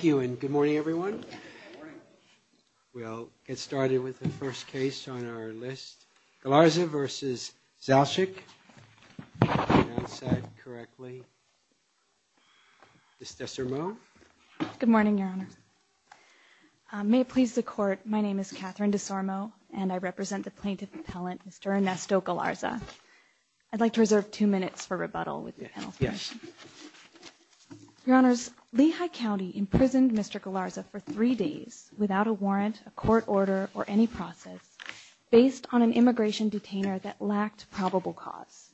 Good morning, Your Honor. May it please the Court, my name is Catherine DeSormo, and I would like to reserve two minutes for rebuttal with the penalty. Your Honors, Lehigh County imprisoned Mr. Galarza for three days without a warrant, a court order, or any process based on an immigration detainer that lacked probable cause.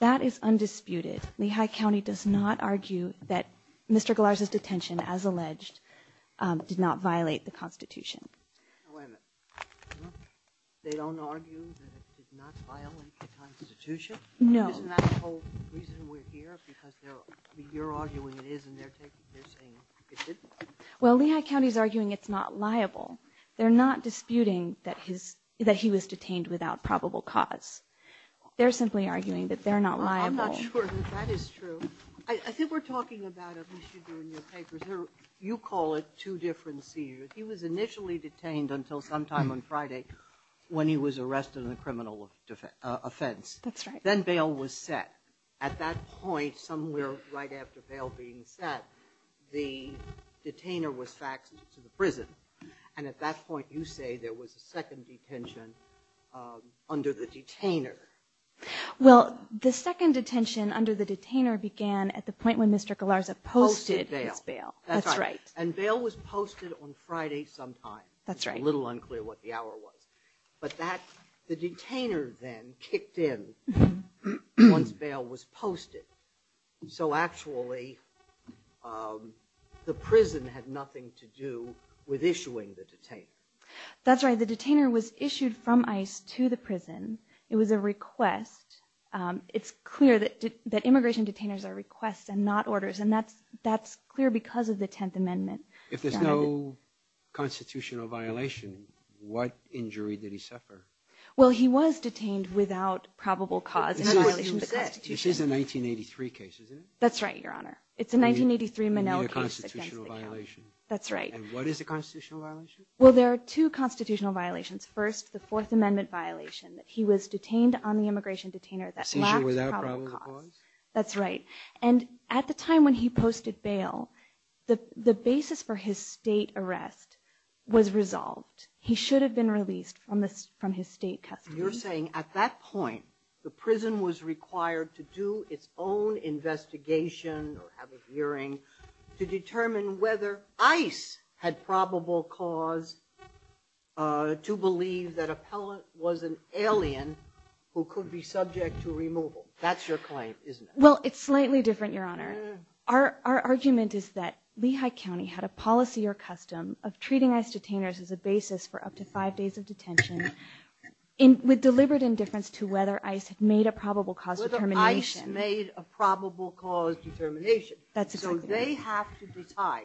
That is undisputed. Lehigh County does not argue that Mr. Galarza's detention, as alleged, did not violate the Constitution. They don't argue that it did not violate the Constitution? No. Isn't that the whole reason we're here? Because you're arguing it is, and they're saying it didn't? Well, Lehigh County's arguing it's not liable. They're not disputing that he was detained without probable cause. They're simply arguing that they're not liable. I'm not sure that that is true. I think we're talking about, at least you do in your papers, you call it two different seizures. He was initially detained until sometime on Friday when he was arrested on a criminal offense. That's right. Then bail was set. At that point, somewhere right after bail being set, the detainer was faxed to the prison, and at that point you say there was a second detention under the detainer. Well, the second detention under the detainer began at the point when Mr. Galarza posted his bail. That's right. And bail was posted on Friday sometime. That's right. It's a little unclear what the hour was. But the detainer then kicked in once bail was posted. So actually, the prison had nothing to do with issuing the detainer. That's right. The detainer was issued from ICE to the prison. It was a request. It's clear that immigration detainers are requests and not orders, and that's clear because of the Tenth Amendment. If there's no constitutional violation, what injury did he suffer? Well, he was detained without probable cause in violation of the Constitution. This is a 1983 case, isn't it? That's right, Your Honor. It's a 1983 Monell case against the county. That's right. And what is the constitutional violation? Well, there are two constitutional violations. First, the Fourth Amendment violation that he was detained on the immigration detainer that lacked probable cause. Seizure without probable cause? That's right. And at the time when he posted bail, the basis for his state arrest was resolved. He should have been released from his state custody. You're saying at that point, the prison was required to do its own investigation or have a hearing to determine whether ICE had probable cause to believe that Appellant was an alien who could be subject to removal. That's your claim, isn't it? Well, it's slightly different, Your Honor. Our argument is that Lehigh County had a policy or custom of treating ICE detainers as a basis for up to five days of detention. With deliberate indifference to whether ICE had made a probable cause determination. Whether ICE made a probable cause determination. That's exactly right. So they have to decide.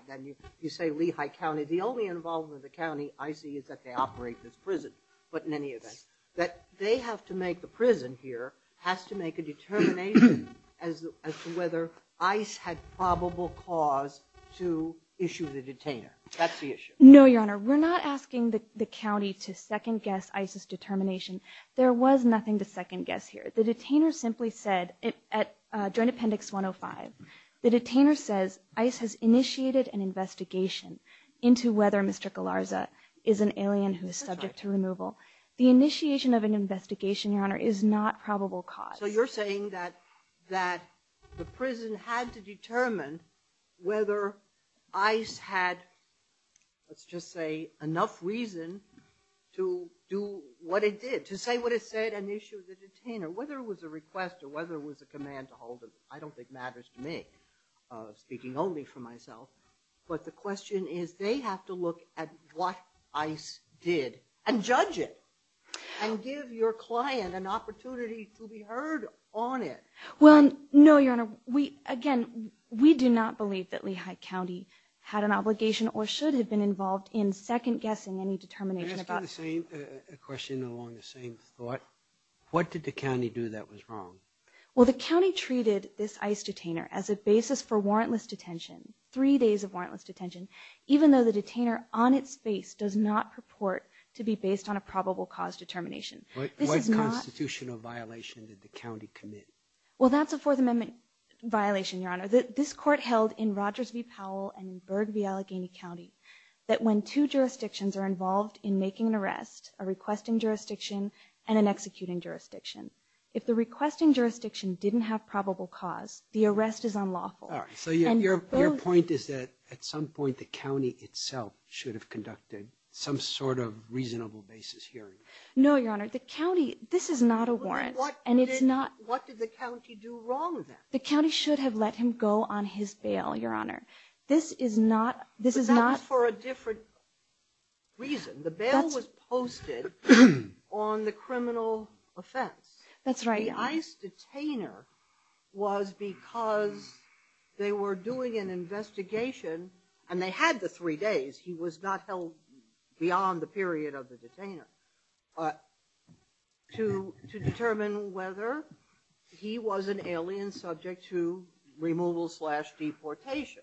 You say Lehigh County. The only involvement of the county I see is that they operate this prison. But in any event, that they have to make the prison here has to make a determination as to whether ICE had probable cause to issue the detainer. That's the issue. No, Your Honor. We're not asking the county to second guess ICE's determination. There was nothing to second guess here. The detainer simply said at Joint Appendix 105, the detainer says ICE has initiated an investigation into whether Mr. Galarza is an alien who is subject to removal. The initiation of an investigation, Your Honor, is not probable cause. So you're saying that the prison had to determine whether ICE had, let's just say, enough reason to do what it did. To say what it said and issue the detainer. Whether it was a request or whether it was a command to hold him. I don't think matters to me. Speaking only for myself. But the question is, they have to look at what ICE did and judge it. And give your client an opportunity to be heard on it. Well, no, Your Honor. Again, we do not believe that Lehigh County had an obligation or should have been involved in second guessing any determination. Can I ask you the same question along the same thought? What did the county do that was wrong? Well, the county treated this ICE detainer as a basis for warrantless detention. Three days of warrantless detention. Even though the detainer on its face does not purport to be based on a probable cause determination. What constitutional violation did the county commit? Well, that's a Fourth Amendment violation, Your Honor. This court held in Rogers v. Powell and in Berg v. Allegheny County that when two jurisdictions are involved in making an arrest, a requesting jurisdiction and an executing jurisdiction, if the requesting jurisdiction didn't have probable cause, the arrest is unlawful. So your point is that at some point the county itself should have conducted some sort of reasonable basis hearing. No, Your Honor. This is not a warrant. What did the county do wrong then? The county should have let him go on his bail, Your Honor. But that was for a different reason. The bail was posted on the criminal offense. That's right, Your Honor. The ICE detainer was because they were doing an investigation, and they had the three days, he was not held beyond the period of the detainer, to determine whether he was an alien subject to removal slash deportation.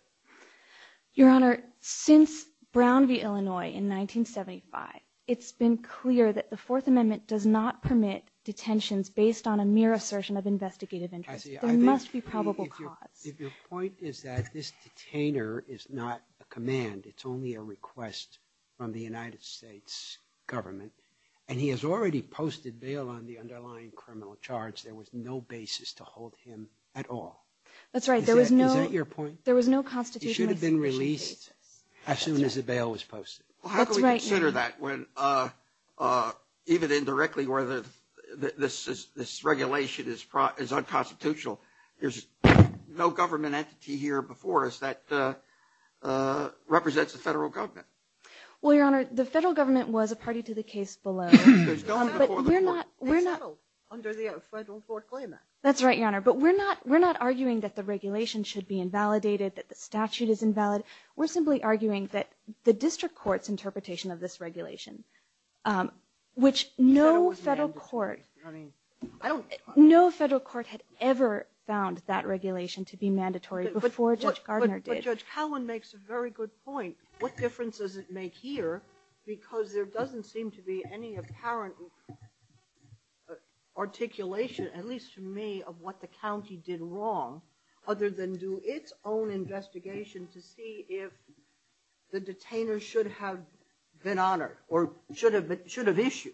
Your Honor, since Brown v. Illinois in 1975, it's been clear that the Fourth Amendment does not permit detentions based on a mere assertion of investigative interest. There must be probable cause. If your point is that this detainer is not a command, it's only a request from the United States government, and he has already posted bail on the underlying criminal charge, there was no basis to hold him at all. Is that your point? There was no constitutionally sufficient basis. He should have been released as soon as the bail was posted. That's right, Your Honor. How can we consider that when even indirectly where this regulation is unconstitutional, there's no government entity here before us that represents the federal government? Well, Your Honor, the federal government was a party to the case below. There's no one before the court. They settled under the federal court claimant. That's right, Your Honor, but we're not arguing that the regulation should be invalidated, that the statute is invalid. We're simply arguing that the district court's interpretation of this regulation, which no federal court had ever found that regulation to be mandatory before Judge Gardner did. And Judge Cowan makes a very good point. What difference does it make here? Because there doesn't seem to be any apparent articulation, at least to me, of what the county did wrong, other than do its own investigation to see if the detainer should have been honored or should have issued.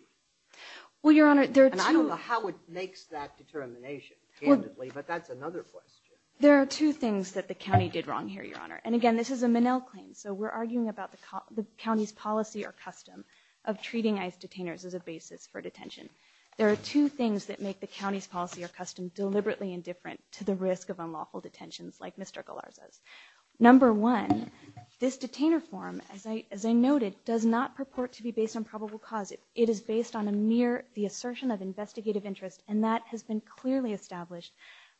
Well, Your Honor, there are two... And I don't know how it makes that determination candidly, but that's another question. There are two things that the county did wrong here, Your Honor. And again, this is a Minnell claim, so we're arguing about the county's policy or custom of treating ICE detainers as a basis for detention. There are two things that make the county's policy or custom deliberately indifferent to the risk of unlawful detentions like Mr. Galarza's. Number one, this detainer form, as I noted, does not purport to be based on probable cause. It is based on a mere assertion of investigative interest, and that has been clearly established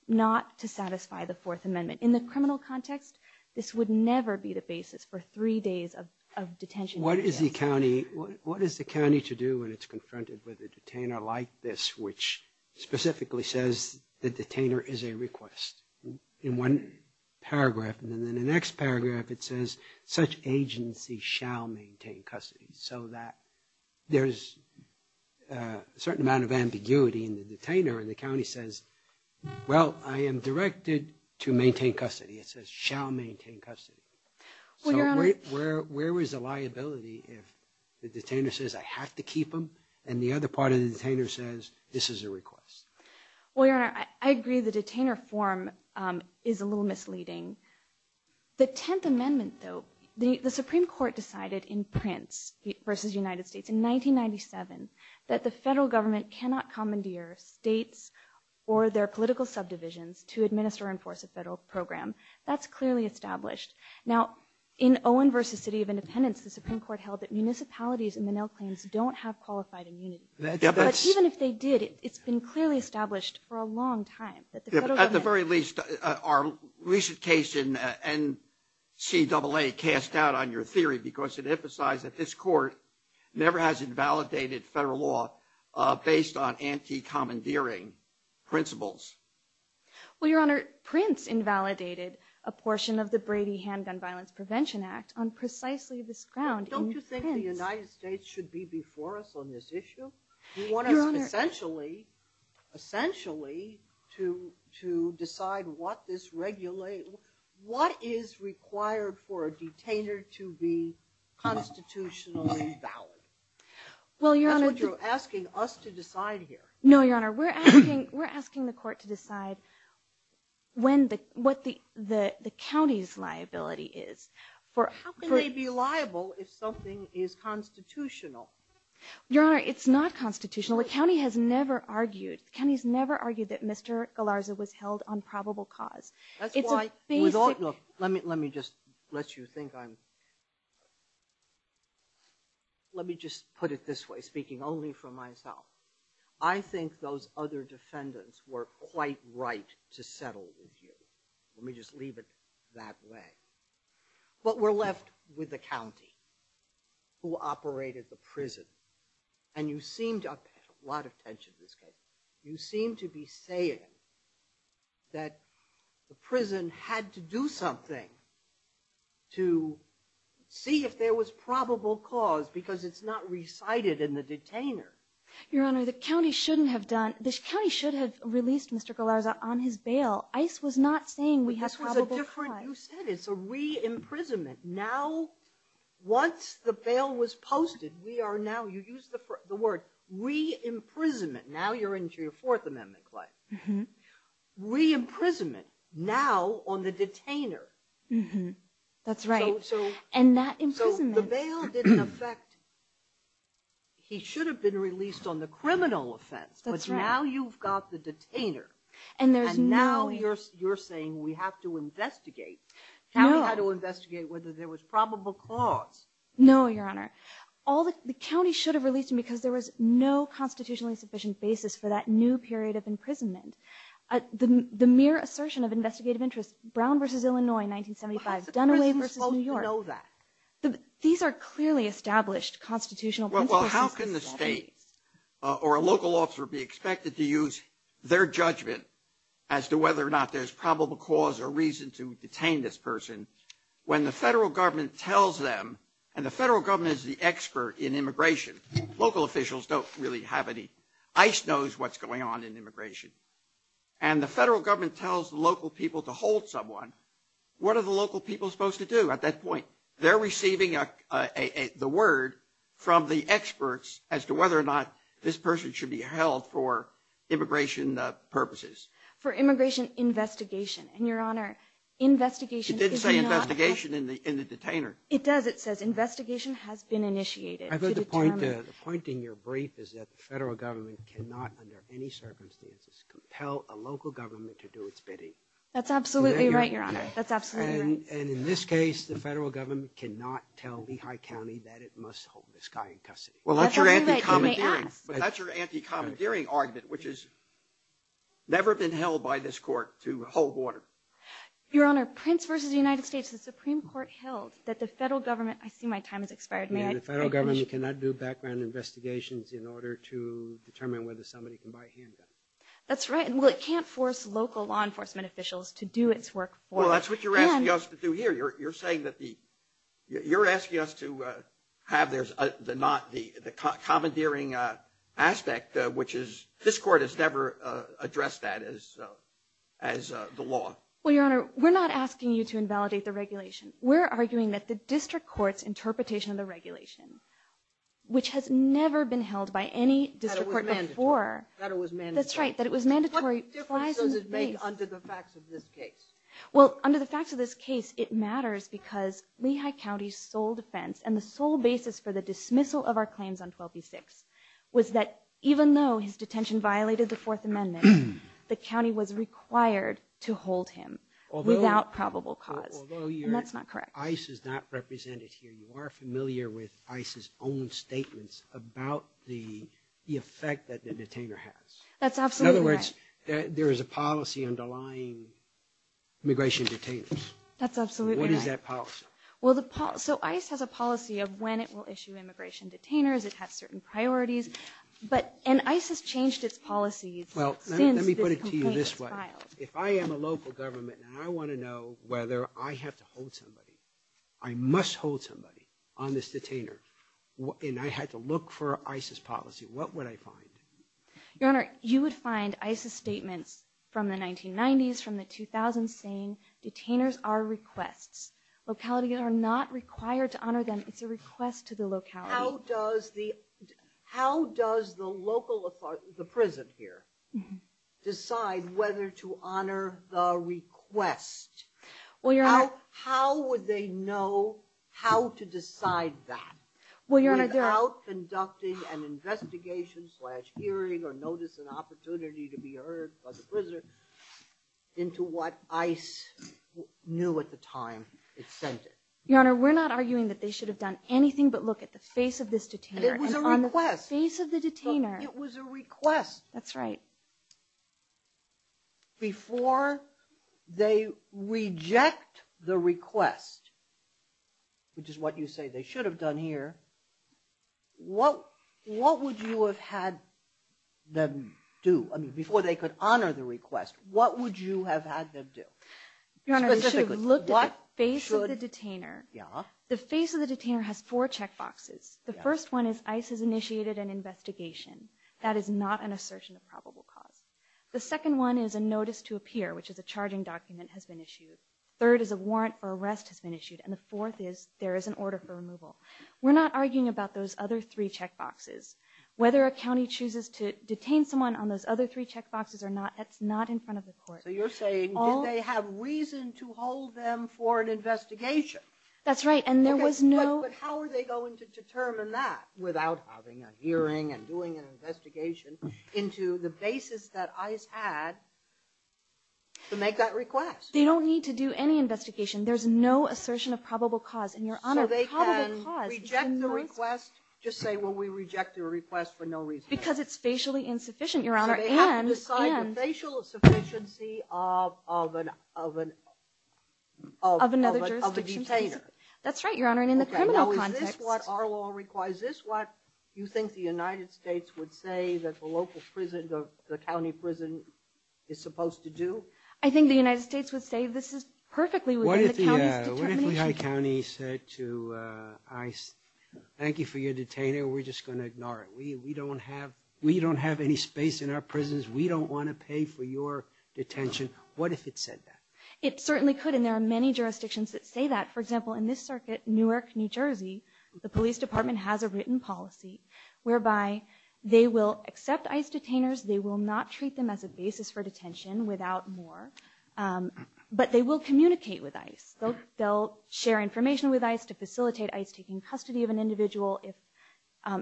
not to satisfy the Fourth Amendment. In the criminal context, this would never be the basis for three days of detention. What is the county to do when it's confronted with a detainer like this, which specifically says the detainer is a request in one paragraph? And then in the next paragraph, it says such agency shall maintain custody, so that there's a certain amount of ambiguity in the detainer. And the county says, well, I am directed to maintain custody. It says shall maintain custody. So where is the liability if the detainer says I have to keep him, and the other part of the detainer says this is a request? Well, Your Honor, I agree the detainer form is a little misleading. The Tenth Amendment, though, the Supreme Court decided in Prince v. United States in 1997 that the federal government cannot commandeer states or their political subdivisions to administer or enforce a federal program. That's clearly established. Now, in Owen v. City of Independence, the Supreme Court held that municipalities in the Nell Claims don't have qualified immunity. But even if they did, it's been clearly established for a long time. At the very least, our recent case in NCAA cast doubt on your theory because it emphasized that this court never has invalidated federal law based on anti-commandeering principles. Well, Your Honor, Prince invalidated a portion of the Brady Handgun Violence Prevention Act on precisely this ground in Prince. Do you think the United States should be before us on this issue? You want us essentially to decide what is required for a detainer to be constitutionally valid? That's what you're asking us to decide here. No, Your Honor, we're asking the court to decide what the county's liability is. How can they be liable if something is constitutional? Your Honor, it's not constitutional. The county has never argued that Mr. Galarza was held on probable cause. Let me just put it this way, speaking only for myself. I think those other defendants were quite right to settle with you. Let me just leave it that way. But we're left with the county who operated the prison. And you seem to be saying that the prison had to do something to see if there was probable cause because it's not recited in the detainer. Your Honor, the county should have released Mr. Galarza on his bail. ICE was not saying we had probable cause. You said it's a re-imprisonment. Once the bail was posted, you used the word re-imprisonment. Now you're into your Fourth Amendment, Clay. Re-imprisonment now on the detainer. That's right. So the bail didn't affect... He should have been released on the criminal offense, but now you've got the detainer. And now you're saying we have to investigate. The county had to investigate whether there was probable cause. No, Your Honor. The county should have released him because there was no constitutionally sufficient basis for that new period of imprisonment. The mere assertion of investigative interest, Brown v. Illinois, 1975, Dunaway v. New York. How is the prison supposed to know that? These are clearly established constitutional principles. Well, how can the state or a local officer be expected to use their judgment as to whether or not there's probable cause or reason to detain this person when the federal government tells them, and the federal government is the expert in immigration. Local officials don't really have any. ICE knows what's going on in immigration. And the federal government tells the local people to hold someone. What are the local people supposed to do at that point? They're receiving the word from the experts as to whether or not this person should be held for immigration purposes. For immigration investigation. And, Your Honor, investigation is not. It did say investigation in the detainer. It does. It says investigation has been initiated. I've heard the point in your brief is that the federal government cannot, under any circumstances, compel a local government to do its bidding. That's absolutely right, Your Honor. That's absolutely right. And in this case, the federal government cannot tell Lehigh County that it must hold this guy in custody. Well, that's your anti-commandeering. That's your anti-commandeering argument, which has never been held by this court to hold water. Your Honor, Prince v. United States, the Supreme Court held that the federal government, I see my time has expired, may I finish? The federal government cannot do background investigations in order to determine whether somebody can buy a handgun. That's right. Well, it can't force local law enforcement officials to do its work for it. Well, that's what you're asking us to do here. You're asking us to have the commandeering aspect, which this court has never addressed that as the law. Well, Your Honor, we're not asking you to invalidate the regulation. We're arguing that the district court's interpretation of the regulation, which has never been held by any district court before. That it was mandatory. That's right, that it was mandatory. What difference does it make under the facts of this case? Well, under the facts of this case, it matters because Lehigh County's sole defense, and the sole basis for the dismissal of our claims on 12b-6, was that even though his detention violated the Fourth Amendment, the county was required to hold him without probable cause. And that's not correct. Although ICE is not represented here, you are familiar with ICE's own statements about the effect that the detainer has. That's absolutely right. In other words, there is a policy underlying immigration detainers. That's absolutely right. What is that policy? So ICE has a policy of when it will issue immigration detainers. It has certain priorities. And ICE has changed its policies since this complaint was filed. Well, let me put it to you this way. If I am a local government and I want to know whether I have to hold somebody, I must hold somebody on this detainer, and I had to look for ICE's policy, what would I find? Your Honor, you would find ICE's statements from the 1990s, from the 2000s, saying detainers are requests. Localities are not required to honor them. It's a request to the locality. How does the local authority, the prison here, decide whether to honor the request? How would they know how to decide that? Without conducting an investigation slash hearing or notice an opportunity to be heard by the prisoner into what ICE knew at the time it sent it. Your Honor, we're not arguing that they should have done anything but look at the face of this detainer. It was a request. Face of the detainer. It was a request. That's right. Before they reject the request, which is what you say they should have done here, what would you have had them do? Before they could honor the request, what would you have had them do? Your Honor, they should have looked at the face of the detainer. The face of the detainer has four check boxes. The first one is ICE has initiated an investigation. That is not an assertion of probable cause. The second one is a notice to appear, which is a charging document has been issued. Third is a warrant for arrest has been issued. And the fourth is there is an order for removal. We're not arguing about those other three check boxes. Whether a county chooses to detain someone on those other three check boxes or not, that's not in front of the court. So you're saying did they have reason to hold them for an investigation? That's right. But how are they going to determine that without having a hearing and doing an investigation into the basis that ICE had to make that request? They don't need to do any investigation. There's no assertion of probable cause. So they can reject the request, just say, well, we reject your request for no reason. They have to decide the facial sufficiency of a detainer. That's right, Your Honor, and in the criminal context. Is this what our law requires? Is this what you think the United States would say that the local prison, the county prison is supposed to do? I think the United States would say this is perfectly within the county's determination. What if Lehigh County said to ICE, thank you for your detainer, we're just going to ignore it. We don't have any space in our prisons. We don't want to pay for your detention. What if it said that? It certainly could, and there are many jurisdictions that say that. For example, in this circuit, Newark, New Jersey, the police department has a written policy whereby they will accept ICE detainers. They will not treat them as a basis for detention without more, but they will communicate with ICE. They'll share information with ICE to facilitate ICE taking custody of an individual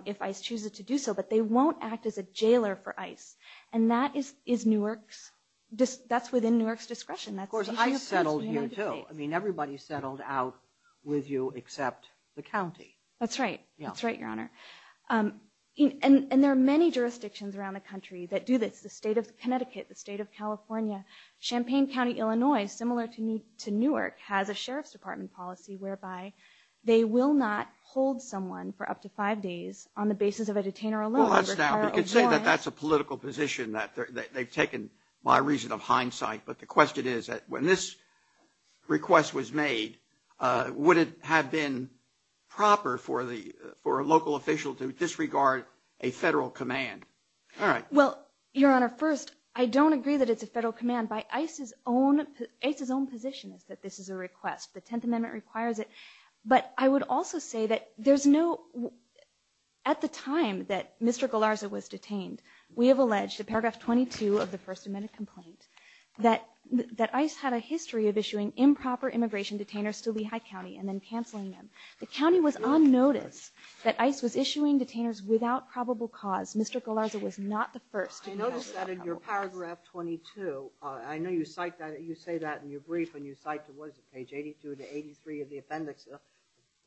if ICE chooses to do so, but they won't act as a jailer for ICE, and that is Newark's, that's within Newark's discretion. Of course, ICE settled here, too. I mean, everybody settled out with you except the county. That's right. That's right, Your Honor, and there are many jurisdictions around the country that do this. The state of Connecticut, the state of California, Champaign County, Illinois, similar to Newark, has a sheriff's department policy whereby they will not hold someone for up to five days on the basis of a detainer alone. Well, that's now, you could say that that's a political position that they've taken by reason of hindsight, but the question is that when this request was made, would it have been proper for a local official to disregard a federal command? Well, Your Honor, first, I don't agree that it's a federal command. By ICE's own position is that this is a request. The Tenth Amendment requires it, but I would also say that there's no, at the time that Mr. Galarza was detained, we have alleged in paragraph 22 of the First Amendment complaint that ICE had a history of issuing improper immigration detainers to Lehigh County and then canceling them. The county was on notice that ICE was issuing detainers without probable cause. Mr. Galarza was not the first to pass that. I noticed that in your paragraph 22. I know you cite that. You say that in your brief, and you cite, what is it, page 82 to 83 of the appendix to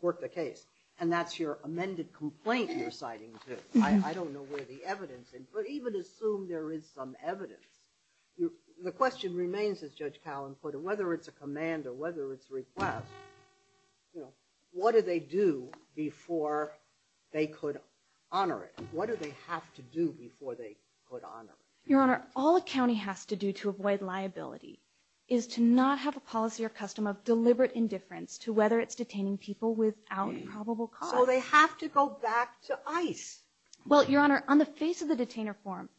court the case, and that's your amended complaint you're citing, too. I don't know where the evidence is, but even assume there is some evidence. The question remains, as Judge Callen put it, whether it's a command or whether it's a request, what do they do before they could honor it? What do they have to do before they could honor it? Your Honor, all a county has to do to avoid liability is to not have a policy or custom of deliberate indifference to whether it's detaining people without probable cause. So they have to go back to ICE. Well, Your Honor, on the face of the detainer form,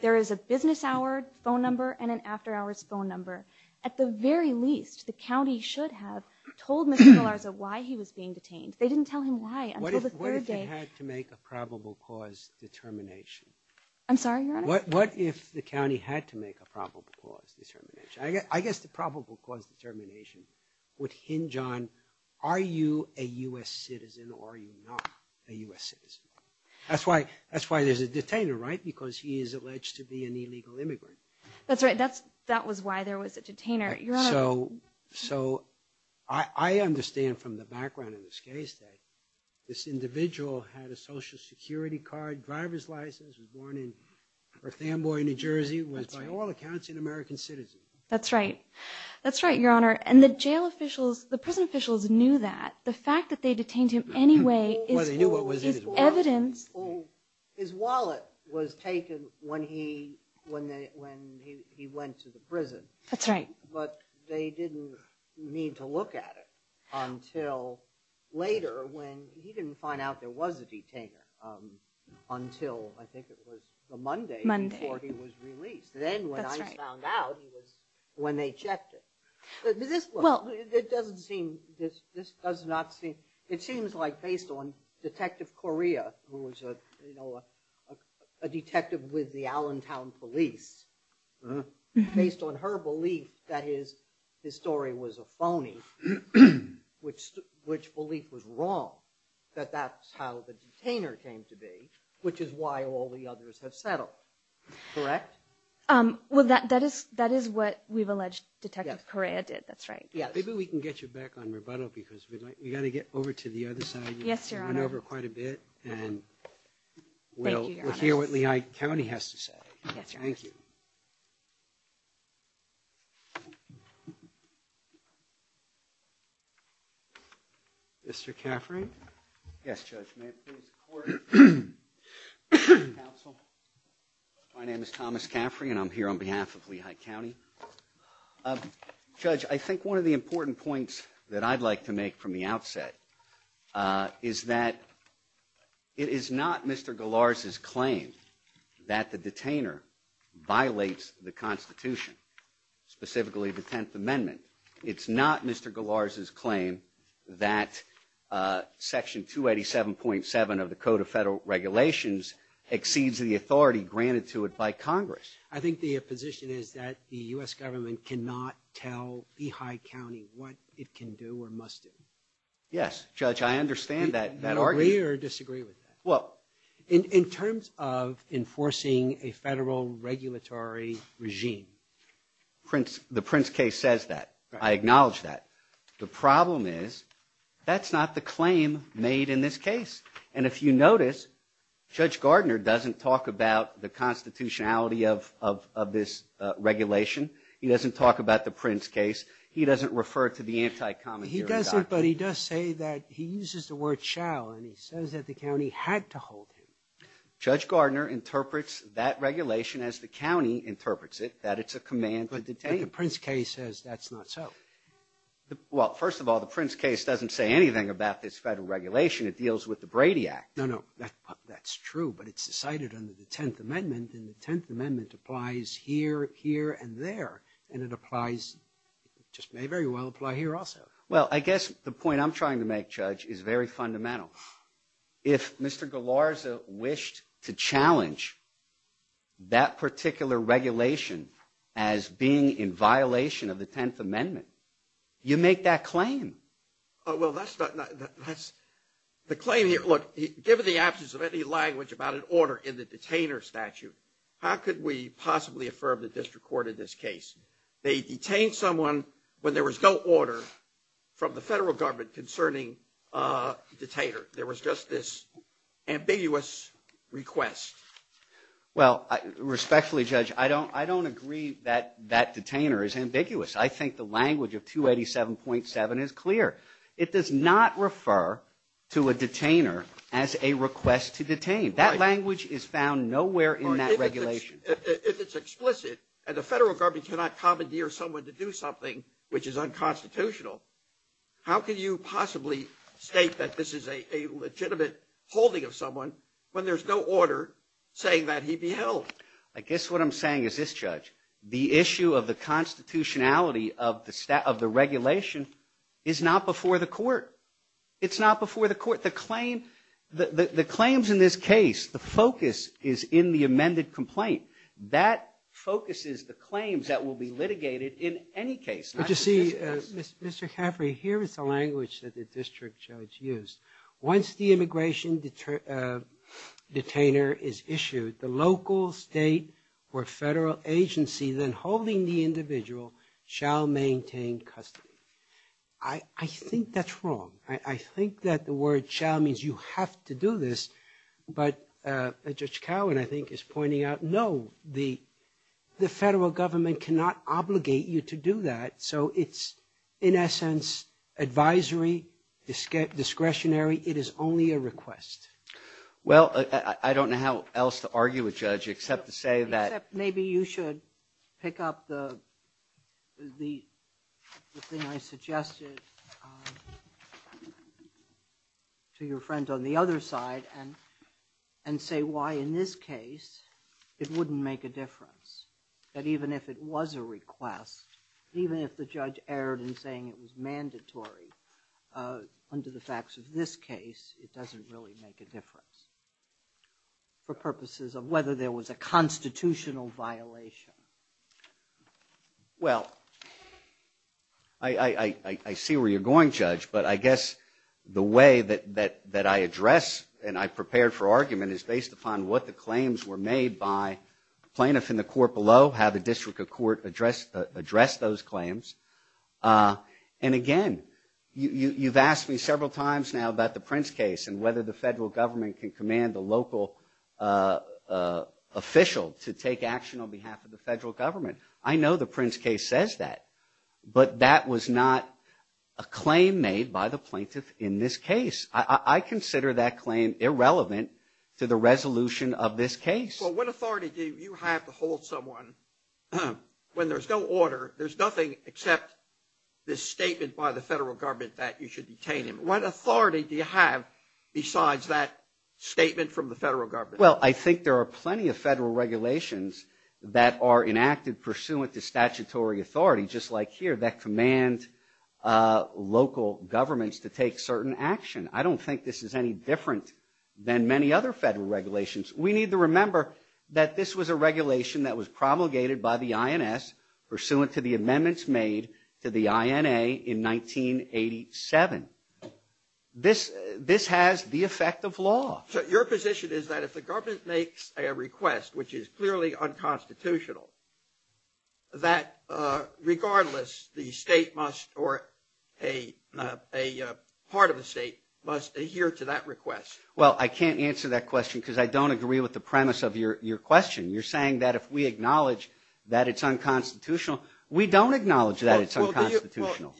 there is a business hour phone number and an after hours phone number. At the very least, the county should have told Mr. Galarza why he was being detained. They didn't tell him why until the third day. What if it had to make a probable cause determination? I'm sorry, Your Honor? What if the county had to make a probable cause determination? I guess the probable cause determination would hinge on are you a U.S. citizen or are you not a U.S. citizen? That's why there's a detainer, right? Because he is alleged to be an illegal immigrant. That's right. That was why there was a detainer. Your Honor. So I understand from the background in this case that this individual had a Social Security card, was born in North Amboy, New Jersey, was by all accounts an American citizen. That's right. That's right, Your Honor. And the jail officials, the prison officials knew that. The fact that they detained him anyway is evidence. His wallet was taken when he went to the prison. That's right. But they didn't need to look at it until later when he didn't find out there was a detainer until I think it was the Monday before he was released. Then when I found out, it was when they checked it. This doesn't seem, this does not seem, it seems like based on Detective Correa, who was a detective with the Allentown police, based on her belief that his story was a phony, which belief was wrong, that that's how the detainer came to be, which is why all the others have settled. Correct? Well, that is what we've alleged Detective Correa did. That's right. Maybe we can get you back on rebuttal because we've got to get over to the other side. Yes, Your Honor. You went over quite a bit and we'll hear what Lehigh County has to say. Yes, Your Honor. Thank you. Mr. Caffrey? Yes, Judge. My name is Thomas Caffrey and I'm here on behalf of Lehigh County. Judge, I think one of the important points that I'd like to make from the outset is that it is not Mr. Galarza's claim that the detainer violates the Constitution, specifically the Tenth Amendment. It's not Mr. Galarza's claim that Section 287.7 of the Code of Federal Regulations exceeds the authority granted to it by Congress. I think the position is that the U.S. government cannot tell Lehigh County what it can do or must do. Yes, Judge. I understand that argument. Do you agree or disagree with that? Well. In terms of enforcing a federal regulatory regime. The Prince case says that. I acknowledge that. The problem is that's not the claim made in this case. And if you notice, Judge Gardner doesn't talk about the constitutionality of this regulation. He doesn't talk about the Prince case. He doesn't refer to the anti-common theory doctrine. He doesn't, but he does say that he uses the word shall and he says that the county had to hold him. Judge Gardner interprets that regulation as the county interprets it, that it's a command to detain him. But the Prince case says that's not so. Well, first of all, the Prince case doesn't say anything about this federal regulation. It deals with the Brady Act. No, no. That's true, but it's decided under the Tenth Amendment, and the Tenth Amendment applies here, here, and there. And it applies, it just may very well apply here also. Well, I guess the point I'm trying to make, Judge, is very fundamental. If Mr. Galarza wished to challenge that particular regulation as being in violation of the Tenth Amendment, you make that claim. Well, that's not, that's, the claim here, look, given the absence of any language about an order in the detainer statute, how could we possibly affirm the district court in this case? They detained someone when there was no order from the federal government concerning a detainer. There was just this ambiguous request. Well, respectfully, Judge, I don't agree that that detainer is ambiguous. I think the language of 287.7 is clear. It does not refer to a detainer as a request to detain. That language is found nowhere in that regulation. If it's explicit, and the federal government cannot commandeer someone to do something which is unconstitutional, how can you possibly state that this is a legitimate holding of someone when there's no order saying that he be held? I guess what I'm saying is this, Judge, the issue of the constitutionality of the regulation is not before the court. It's not before the court. But the claims in this case, the focus is in the amended complaint. That focuses the claims that will be litigated in any case. But you see, Mr. Caffrey, here is the language that the district judge used. Once the immigration detainer is issued, the local, state, or federal agency then holding the individual shall maintain custody. I think that's wrong. I think that the word shall means you have to do this. But Judge Cowan, I think, is pointing out, no, the federal government cannot obligate you to do that. So it's, in essence, advisory, discretionary. It is only a request. Well, I don't know how else to argue with Judge except to say that. Except maybe you should pick up the thing I suggested to your friend on the other side and say why in this case it wouldn't make a difference. That even if it was a request, even if the judge erred in saying it was mandatory under the facts of this case, it doesn't really make a difference. For purposes of whether there was a constitutional violation. Well, I see where you're going, Judge. But I guess the way that I address and I prepared for argument is based upon what the claims were made by plaintiffs in the court below, how the district of court addressed those claims. And, again, you've asked me several times now about the Prince case and whether the federal government can command the local official to take action on behalf of the federal government. I know the Prince case says that. But that was not a claim made by the plaintiff in this case. I consider that claim irrelevant to the resolution of this case. Well, what authority do you have to hold someone when there's no order, there's nothing except this statement by the federal government that you should detain him? What authority do you have besides that statement from the federal government? Well, I think there are plenty of federal regulations that are enacted pursuant to statutory authority, just like here, that command local governments to take certain action. I don't think this is any different than many other federal regulations. We need to remember that this was a regulation that was promulgated by the state. This has the effect of law. So your position is that if the government makes a request, which is clearly unconstitutional, that, regardless, the state must, or a part of the state, must adhere to that request. Well, I can't answer that question because I don't agree with the premise of your question. You're saying that if we acknowledge that it's unconstitutional, we don't acknowledge that it's unconstitutional.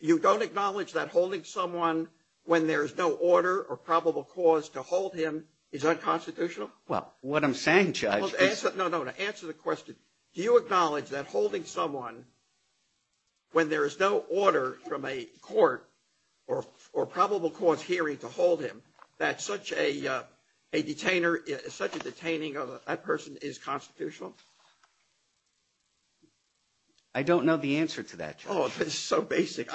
You don't acknowledge that holding someone when there is no order or probable cause to hold him is unconstitutional? Well, what I'm saying, Judge. No, no. To answer the question, do you acknowledge that holding someone when there is no order from a court or probable cause hearing to hold him, that such a detainer, such a detaining of that person is constitutional? I don't know the answer to that. Oh, that's so basic.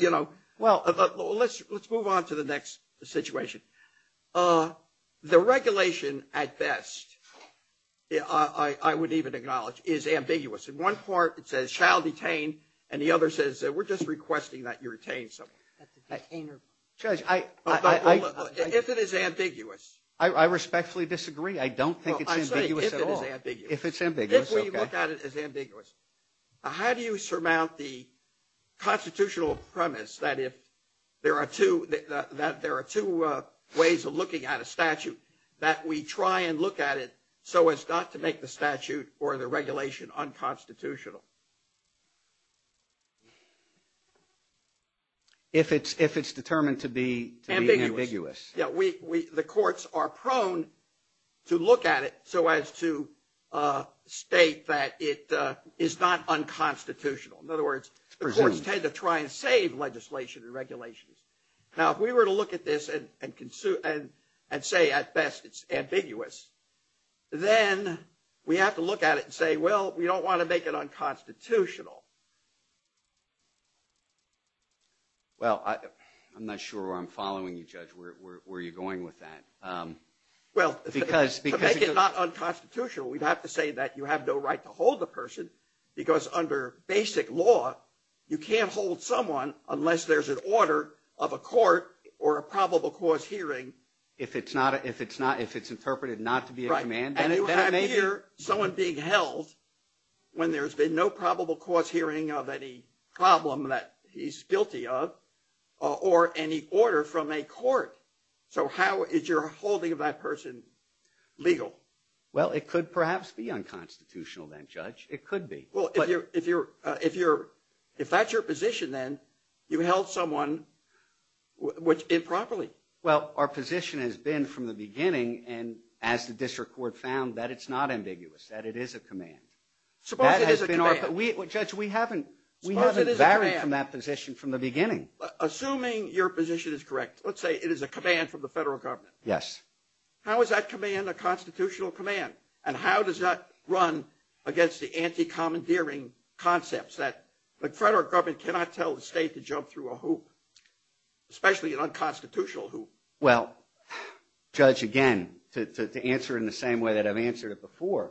You know, let's move on to the next situation. The regulation, at best, I would even acknowledge, is ambiguous. In one part it says shall detain, and the other says we're just requesting that you retain someone. Judge, I. If it is ambiguous. I respectfully disagree. I don't think it's ambiguous at all. If it's ambiguous, okay. If we look at it as ambiguous. How do you surmount the constitutional premise that if there are two ways of looking at a statute, that we try and look at it so as not to make the statute or the regulation unconstitutional? If it's determined to be ambiguous. The courts are prone to look at it so as to state that it is not unconstitutional. In other words, the courts tend to try and save legislation and regulations. Now, if we were to look at this and say, at best, it's ambiguous, then we have to look at it and say, well, we don't want to make it unconstitutional. Well, I'm not sure where I'm following you, Judge. Where are you going with that? Well, to make it not unconstitutional, we'd have to say that you have no right to hold the person, because under basic law, you can't hold someone unless there's an order of a court or a probable cause hearing. If it's interpreted not to be a command, then it may be. I hear someone being held when there's been no probable cause hearing of any problem that he's guilty of or any order from a court. So how is your holding of that person legal? Well, it could perhaps be unconstitutional then, Judge. It could be. Well, if that's your position then, you held someone improperly. Well, our position has been from the beginning, and as the district court found, that it's not ambiguous, that it is a command. Suppose it is a command. Judge, we haven't varied from that position from the beginning. Assuming your position is correct, let's say it is a command from the federal government. Yes. How is that command a constitutional command? And how does that run against the anti-commandeering concepts that the federal government cannot tell the state to jump through a hoop, especially an unconstitutional hoop? Well, Judge, again, to answer in the same way that I've answered it before,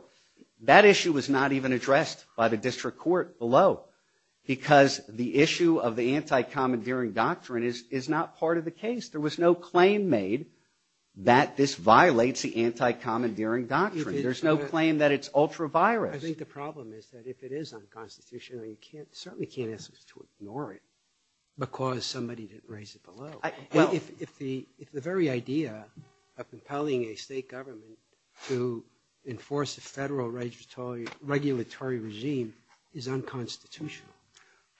that issue was not even addressed by the district court below, because the issue of the anti-commandeering doctrine is not part of the case. There was no claim made that this violates the anti-commandeering doctrine. There's no claim that it's ultra-virus. I think the problem is that if it is unconstitutional, you certainly can't ask us to ignore it because somebody didn't raise it below. If the very idea of compelling a state government to enforce a federal regulatory regime is unconstitutional,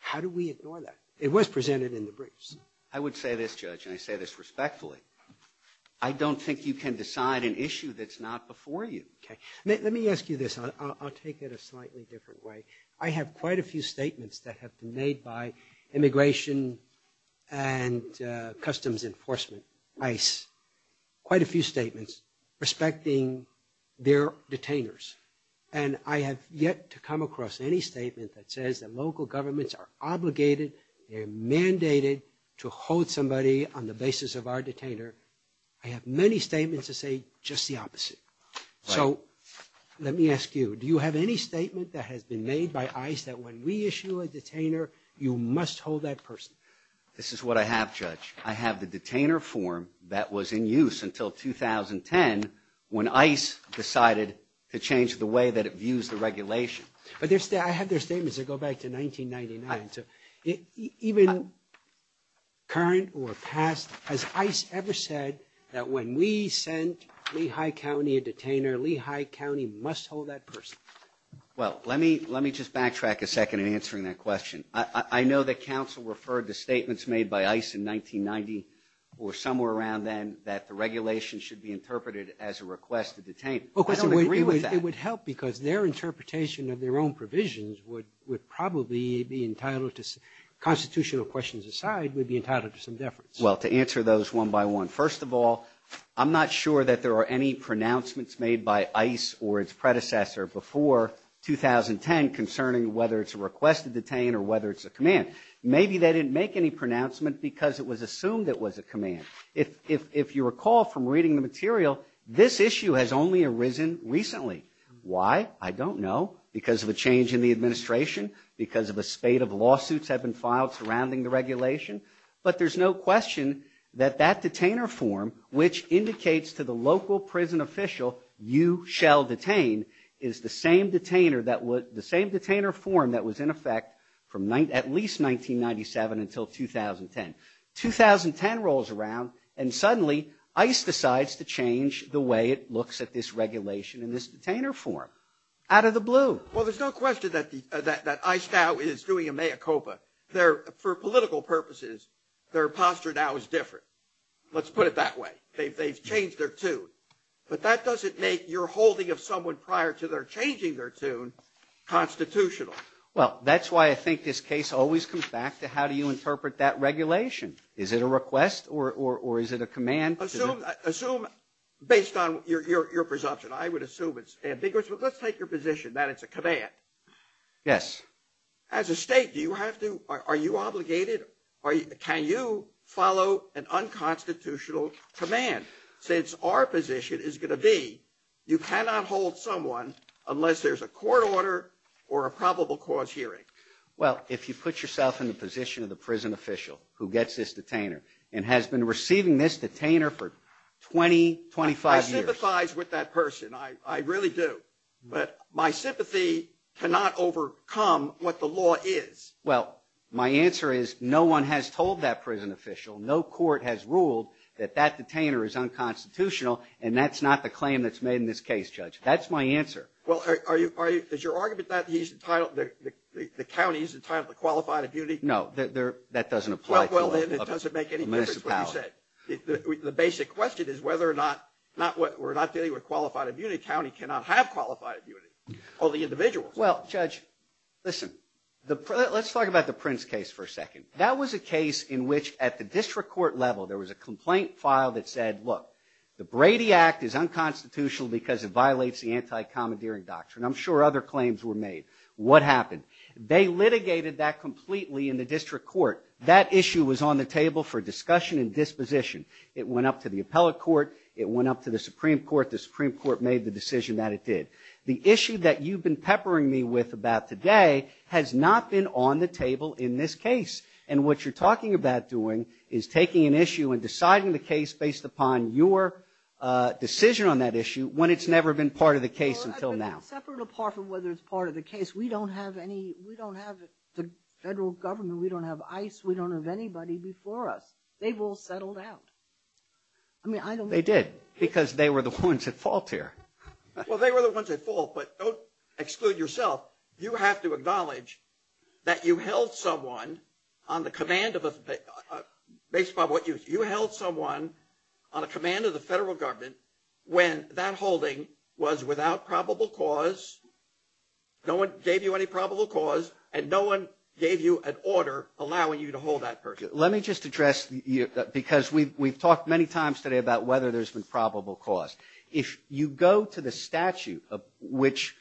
how do we ignore that? It was presented in the briefs. I would say this, Judge, and I say this respectfully. I don't think you can decide an issue that's not before you. Okay. Let me ask you this. I'll take it a slightly different way. I have quite a few statements that have been made by Immigration and Customs Enforcement, ICE, quite a few statements respecting their detainers, and I have yet to come across any statement that says that local governments are obligated, they're mandated to hold somebody on the basis of our detainer. I have many statements that say just the opposite. Right. So let me ask you, do you have any statement that has been made by ICE that when we issue a detainer, you must hold that person? This is what I have, Judge. I have the detainer form that was in use until 2010 when ICE decided to change the way that it views the regulation. But I have their statements that go back to 1999. Even current or past, has ICE ever said that when we sent Lehigh County a detainer, Lehigh County must hold that person? Well, let me just backtrack a second in answering that question. I know that counsel referred to statements made by ICE in 1990 or somewhere around then that the regulation should be interpreted as a request to detain. I don't agree with that. It would help because their interpretation of their own provisions would probably be entitled to, constitutional questions aside, would be entitled to some deference. Well, to answer those one by one, first of all, I'm not sure that there are any pronouncements made by ICE or its predecessor before 2010 concerning whether it's a request to detain or whether it's a command. Maybe they didn't make any pronouncement because it was assumed it was a command. If you recall from reading the material, this issue has only arisen recently. Why? I don't know. Because of a change in the administration? Because of a spate of lawsuits have been filed surrounding the regulation? But there's no question that that detainer form, which indicates to the local prison official, you shall detain, is the same detainer form that was in effect from at least 1997 until 2010. 2010 rolls around and suddenly ICE decides to change the way it looks at this regulation and this detainer form. Out of the blue. Well, there's no question that ICE now is doing a mea culpa. For political purposes, their posture now is different. Let's put it that way. They've changed their tune. But that doesn't make your holding of someone prior to their changing their tune constitutional. Well, that's why I think this case always comes back to how do you interpret that regulation? Is it a request or is it a command? Assume, based on your presumption, I would assume it's ambiguous, but let's take your position that it's a command. Yes. As a state, do you have to, are you obligated, can you follow an unconstitutional command? Since our position is going to be you cannot hold someone unless there's a court order or a probable cause hearing. Well, if you put yourself in the position of the prison official who gets this detainer and has been receiving this detainer for 20, 25 years. I sympathize with that person. I really do. But my sympathy cannot overcome what the law is. Well, my answer is no one has told that prison official. No court has ruled that that detainer is unconstitutional, and that's not the claim that's made in this case, Judge. That's my answer. Well, is your argument that he's entitled, the county is entitled to qualified immunity? No, that doesn't apply. Well, then it doesn't make any difference what you say. The basic question is whether or not, we're not dealing with qualified immunity. A county cannot have qualified immunity. All the individuals. Well, Judge, listen. Let's talk about the Prince case for a second. That was a case in which, at the district court level, there was a complaint filed that said, look, the Brady Act is unconstitutional because it violates the anti-commandeering doctrine. I'm sure other claims were made. What happened? They litigated that completely in the district court. That issue was on the table for discussion and disposition. It went up to the appellate court. It went up to the Supreme Court. The Supreme Court made the decision that it did. The issue that you've been peppering me with about today has not been on the table in this case. And what you're talking about doing is taking an issue and deciding the case based upon your decision on that issue when it's never been part of the case until now. Separate apart from whether it's part of the case, we don't have any, we don't have the federal government. We don't have ICE. We don't have anybody before us. They've all settled out. They did. Because they were the ones at fault here. Well, they were the ones at fault, but don't exclude yourself. You have to acknowledge that you held someone on the command of a, based upon what you, you held someone on a command of the federal government when that holding was without probable cause, no one gave you any probable cause, and no one gave you an order allowing you to hold that person. Let me just address, because we've talked many times today about whether there's been probable cause. If you go to the statute which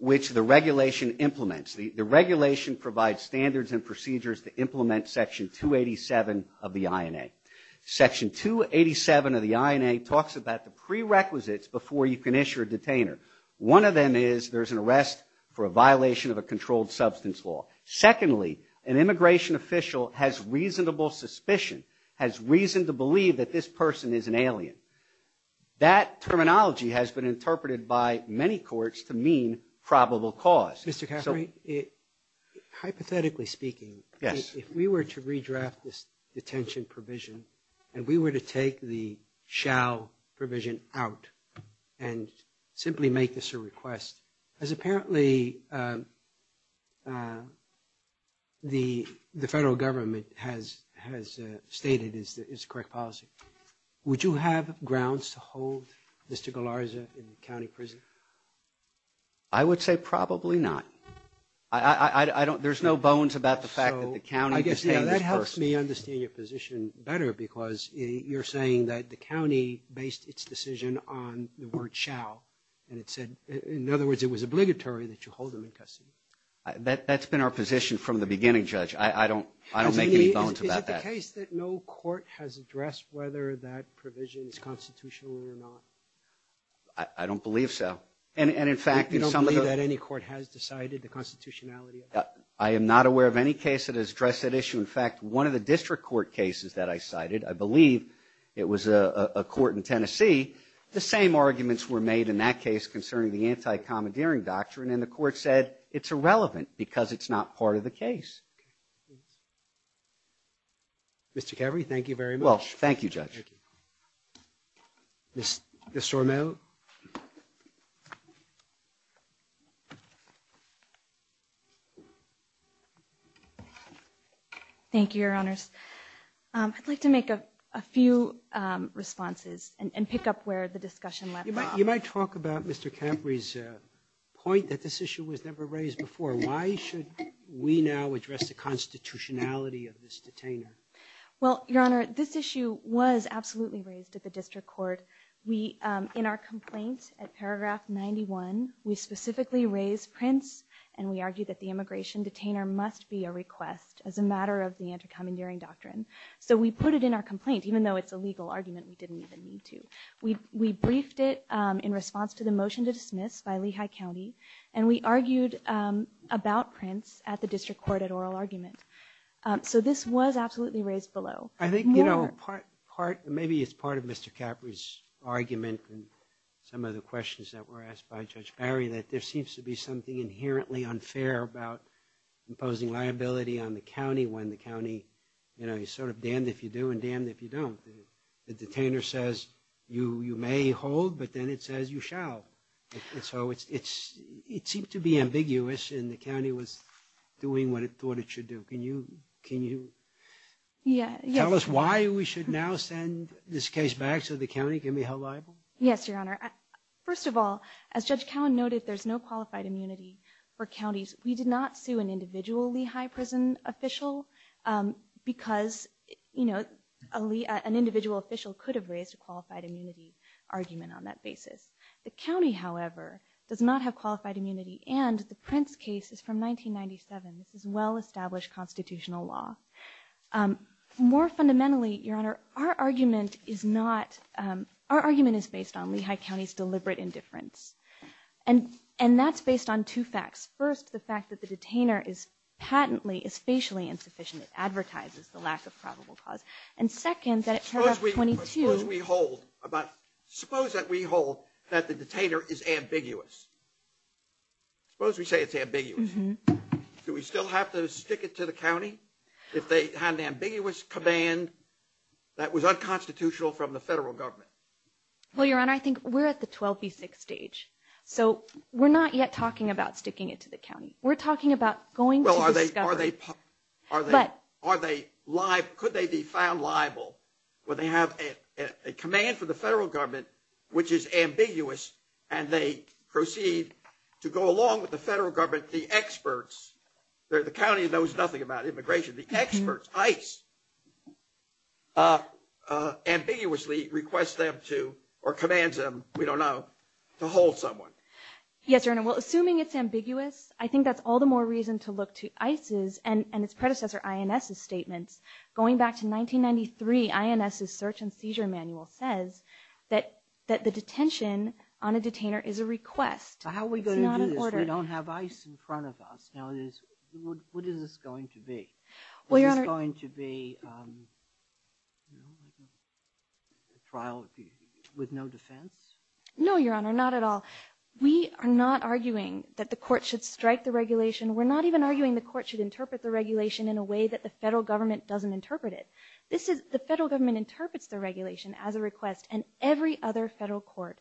the regulation implements, the regulation provides standards and procedures to implement Section 287 of the INA. Section 287 of the INA talks about the prerequisites before you can issue a detainer. One of them is there's an arrest for a violation of a controlled substance law. Secondly, an immigration official has reasonable suspicion, has reason to believe that this person is an alien. That terminology has been interpreted by many courts to mean probable cause. Mr. Caffrey, hypothetically speaking, if we were to redraft this detention provision and we were to take the shall provision out and simply make this a request, as apparently the federal government has stated is the correct policy, would you have grounds to hold Mr. Galarza in county prison? I would say probably not. There's no bones about the fact that the county detained this person. I guess that helps me understand your position better, because you're saying that the county based its decision on the word shall. In other words, it was obligatory that you hold him in custody. That's been our position from the beginning, Judge. I don't make any bones about that. Is it the case that no court has addressed whether that provision is constitutional or not? I don't believe so. You don't believe that any court has decided the constitutionality of it? I am not aware of any case that has addressed that issue. In fact, one of the district court cases that I cited, I believe it was a court in Tennessee, the same arguments were made in that case concerning the anti-commandeering doctrine, and the court said it's irrelevant because it's not part of the case. Mr. Capri, thank you very much. Well, thank you, Judge. Ms. Sormell? Thank you, Your Honors. I'd like to make a few responses and pick up where the discussion left off. You might talk about Mr. Capri's point that this issue was never raised before. Why should we now address the constitutionality of this detainer? Well, Your Honor, this issue was absolutely raised at the district court. In our complaint at paragraph 91, we specifically raised Prince, and we argued that the immigration detainer must be a request as a matter of the anti-commandeering doctrine. So we put it in our complaint, even though it's a legal argument, we didn't even need to. We briefed it in response to the motion to dismiss by Lehigh County, and we argued about Prince at the district court at oral argument. So this was absolutely raised below. I think maybe it's part of Mr. Capri's argument and some of the questions that were asked by Judge Barry that there seems to be something inherently unfair about imposing liability on the county when the county is sort of damned if you do and damned if you don't. The detainer says you may hold, but then it says you shall. And so it seemed to be ambiguous, and the county was doing what it thought it should do. Can you tell us why we should now send this case back so the county can be held liable? Yes, Your Honor. First of all, as Judge Cowan noted, there's no qualified immunity for counties. We did not sue an individual Lehigh prison official because an individual official could have raised a qualified immunity argument on that basis. The county, however, does not have qualified immunity, and the Prince case is from 1997. This is well-established constitutional law. More fundamentally, Your Honor, our argument is based on Lehigh County's deliberate indifference, and that's based on two facts. First, the fact that the detainer is patently, is facially insufficient. It advertises the lack of probable cause. And second, that it turned out 22. Suppose we hold that the detainer is ambiguous. Suppose we say it's ambiguous. Do we still have to stick it to the county if they had an ambiguous command that was unconstitutional from the federal government? Well, Your Honor, I think we're at the 12B6 stage. So we're not yet talking about sticking it to the county. We're talking about going to discover. Are they liable? Could they be found liable when they have a command from the federal government which is ambiguous and they proceed to go along with the federal government, the experts. The county knows nothing about immigration. ICE ambiguously requests them to or commands them, we don't know, to hold someone. Yes, Your Honor. Well, assuming it's ambiguous, I think that's all the more reason to look to ICE's and its predecessor INS's statements. Going back to 1993, INS's search and seizure manual says that the detention on a detainer is a request. How are we going to do this? We don't have ICE in front of us. What is this going to be? Is this going to be a trial with no defense? No, Your Honor, not at all. We are not arguing that the court should strike the regulation. We're not even arguing the court should interpret the regulation in a way that the federal government doesn't interpret it. The federal government interprets the regulation as a request, and every other federal court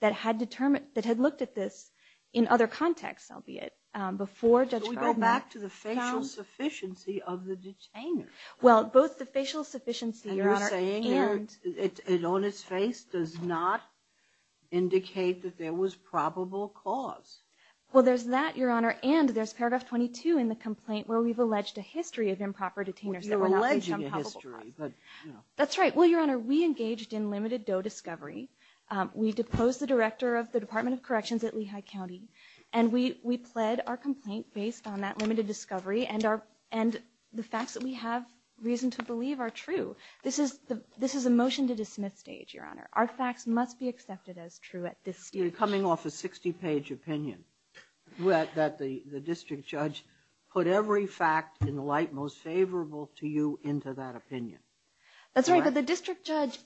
that had looked at this in other contexts, albeit before Judge Gardner. Should we go back to the facial sufficiency of the detainer? Well, both the facial sufficiency, Your Honor, and... And you're saying it on its face does not indicate that there was probable cause. Well, there's that, Your Honor, and there's paragraph 22 in the complaint where we've alleged a history of improper detainers that were not... Well, you're alleging a history, but... That's right. Well, Your Honor, we engaged in limited DOE discovery. We deposed the director of the Department of Corrections at Lehigh County, and we pled our complaint based on that limited discovery, and the facts that we have reason to believe are true. This is a motion to dismiss stage, Your Honor. Our facts must be accepted as true at this stage. You're coming off a 60-page opinion that the district judge put every fact in the light most favorable to you into that opinion. That's right, but the district judge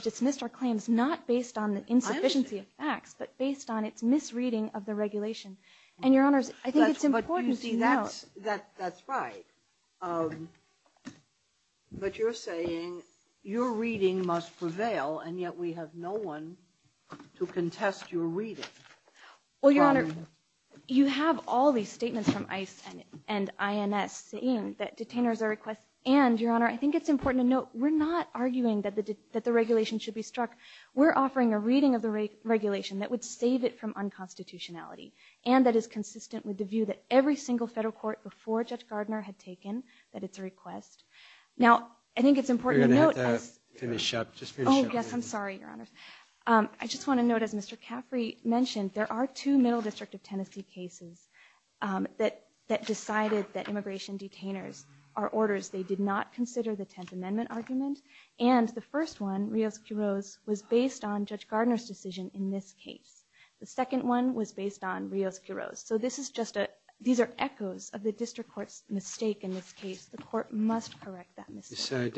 dismissed our claims not based on the insufficiency of facts, but based on its misreading of the regulation. And, Your Honors, I think it's important to note... That's right, but you're saying your reading must prevail, and yet we have no one to contest your reading. Well, Your Honor, you have all these statements from ICE and INS saying that detainers are a request and, Your Honor, I think it's important to note we're not arguing that the regulation should be struck. We're offering a reading of the regulation that would save it from unconstitutionality and that is consistent with the view that every single federal court before Judge Gardner had taken that it's a request. Now, I think it's important to note... You're going to have to finish up. Just finish up. Oh, yes, I'm sorry, Your Honors. I just want to note, as Mr. Caffrey mentioned, there are two Middle District of Tennessee cases that decided that immigration detainers are orders. They did not consider the Tenth Amendment argument, and the first one, Rios-Quiroz, was based on Judge Gardner's decision in this case. The second one was based on Rios-Quiroz. So these are echoes of the district court's mistake in this case. The court must correct that mistake.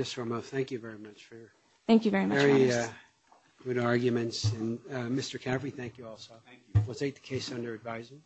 Thank you very much for your very good arguments. Mr. Caffrey, thank you also. Thank you. We'll take the case under advisory.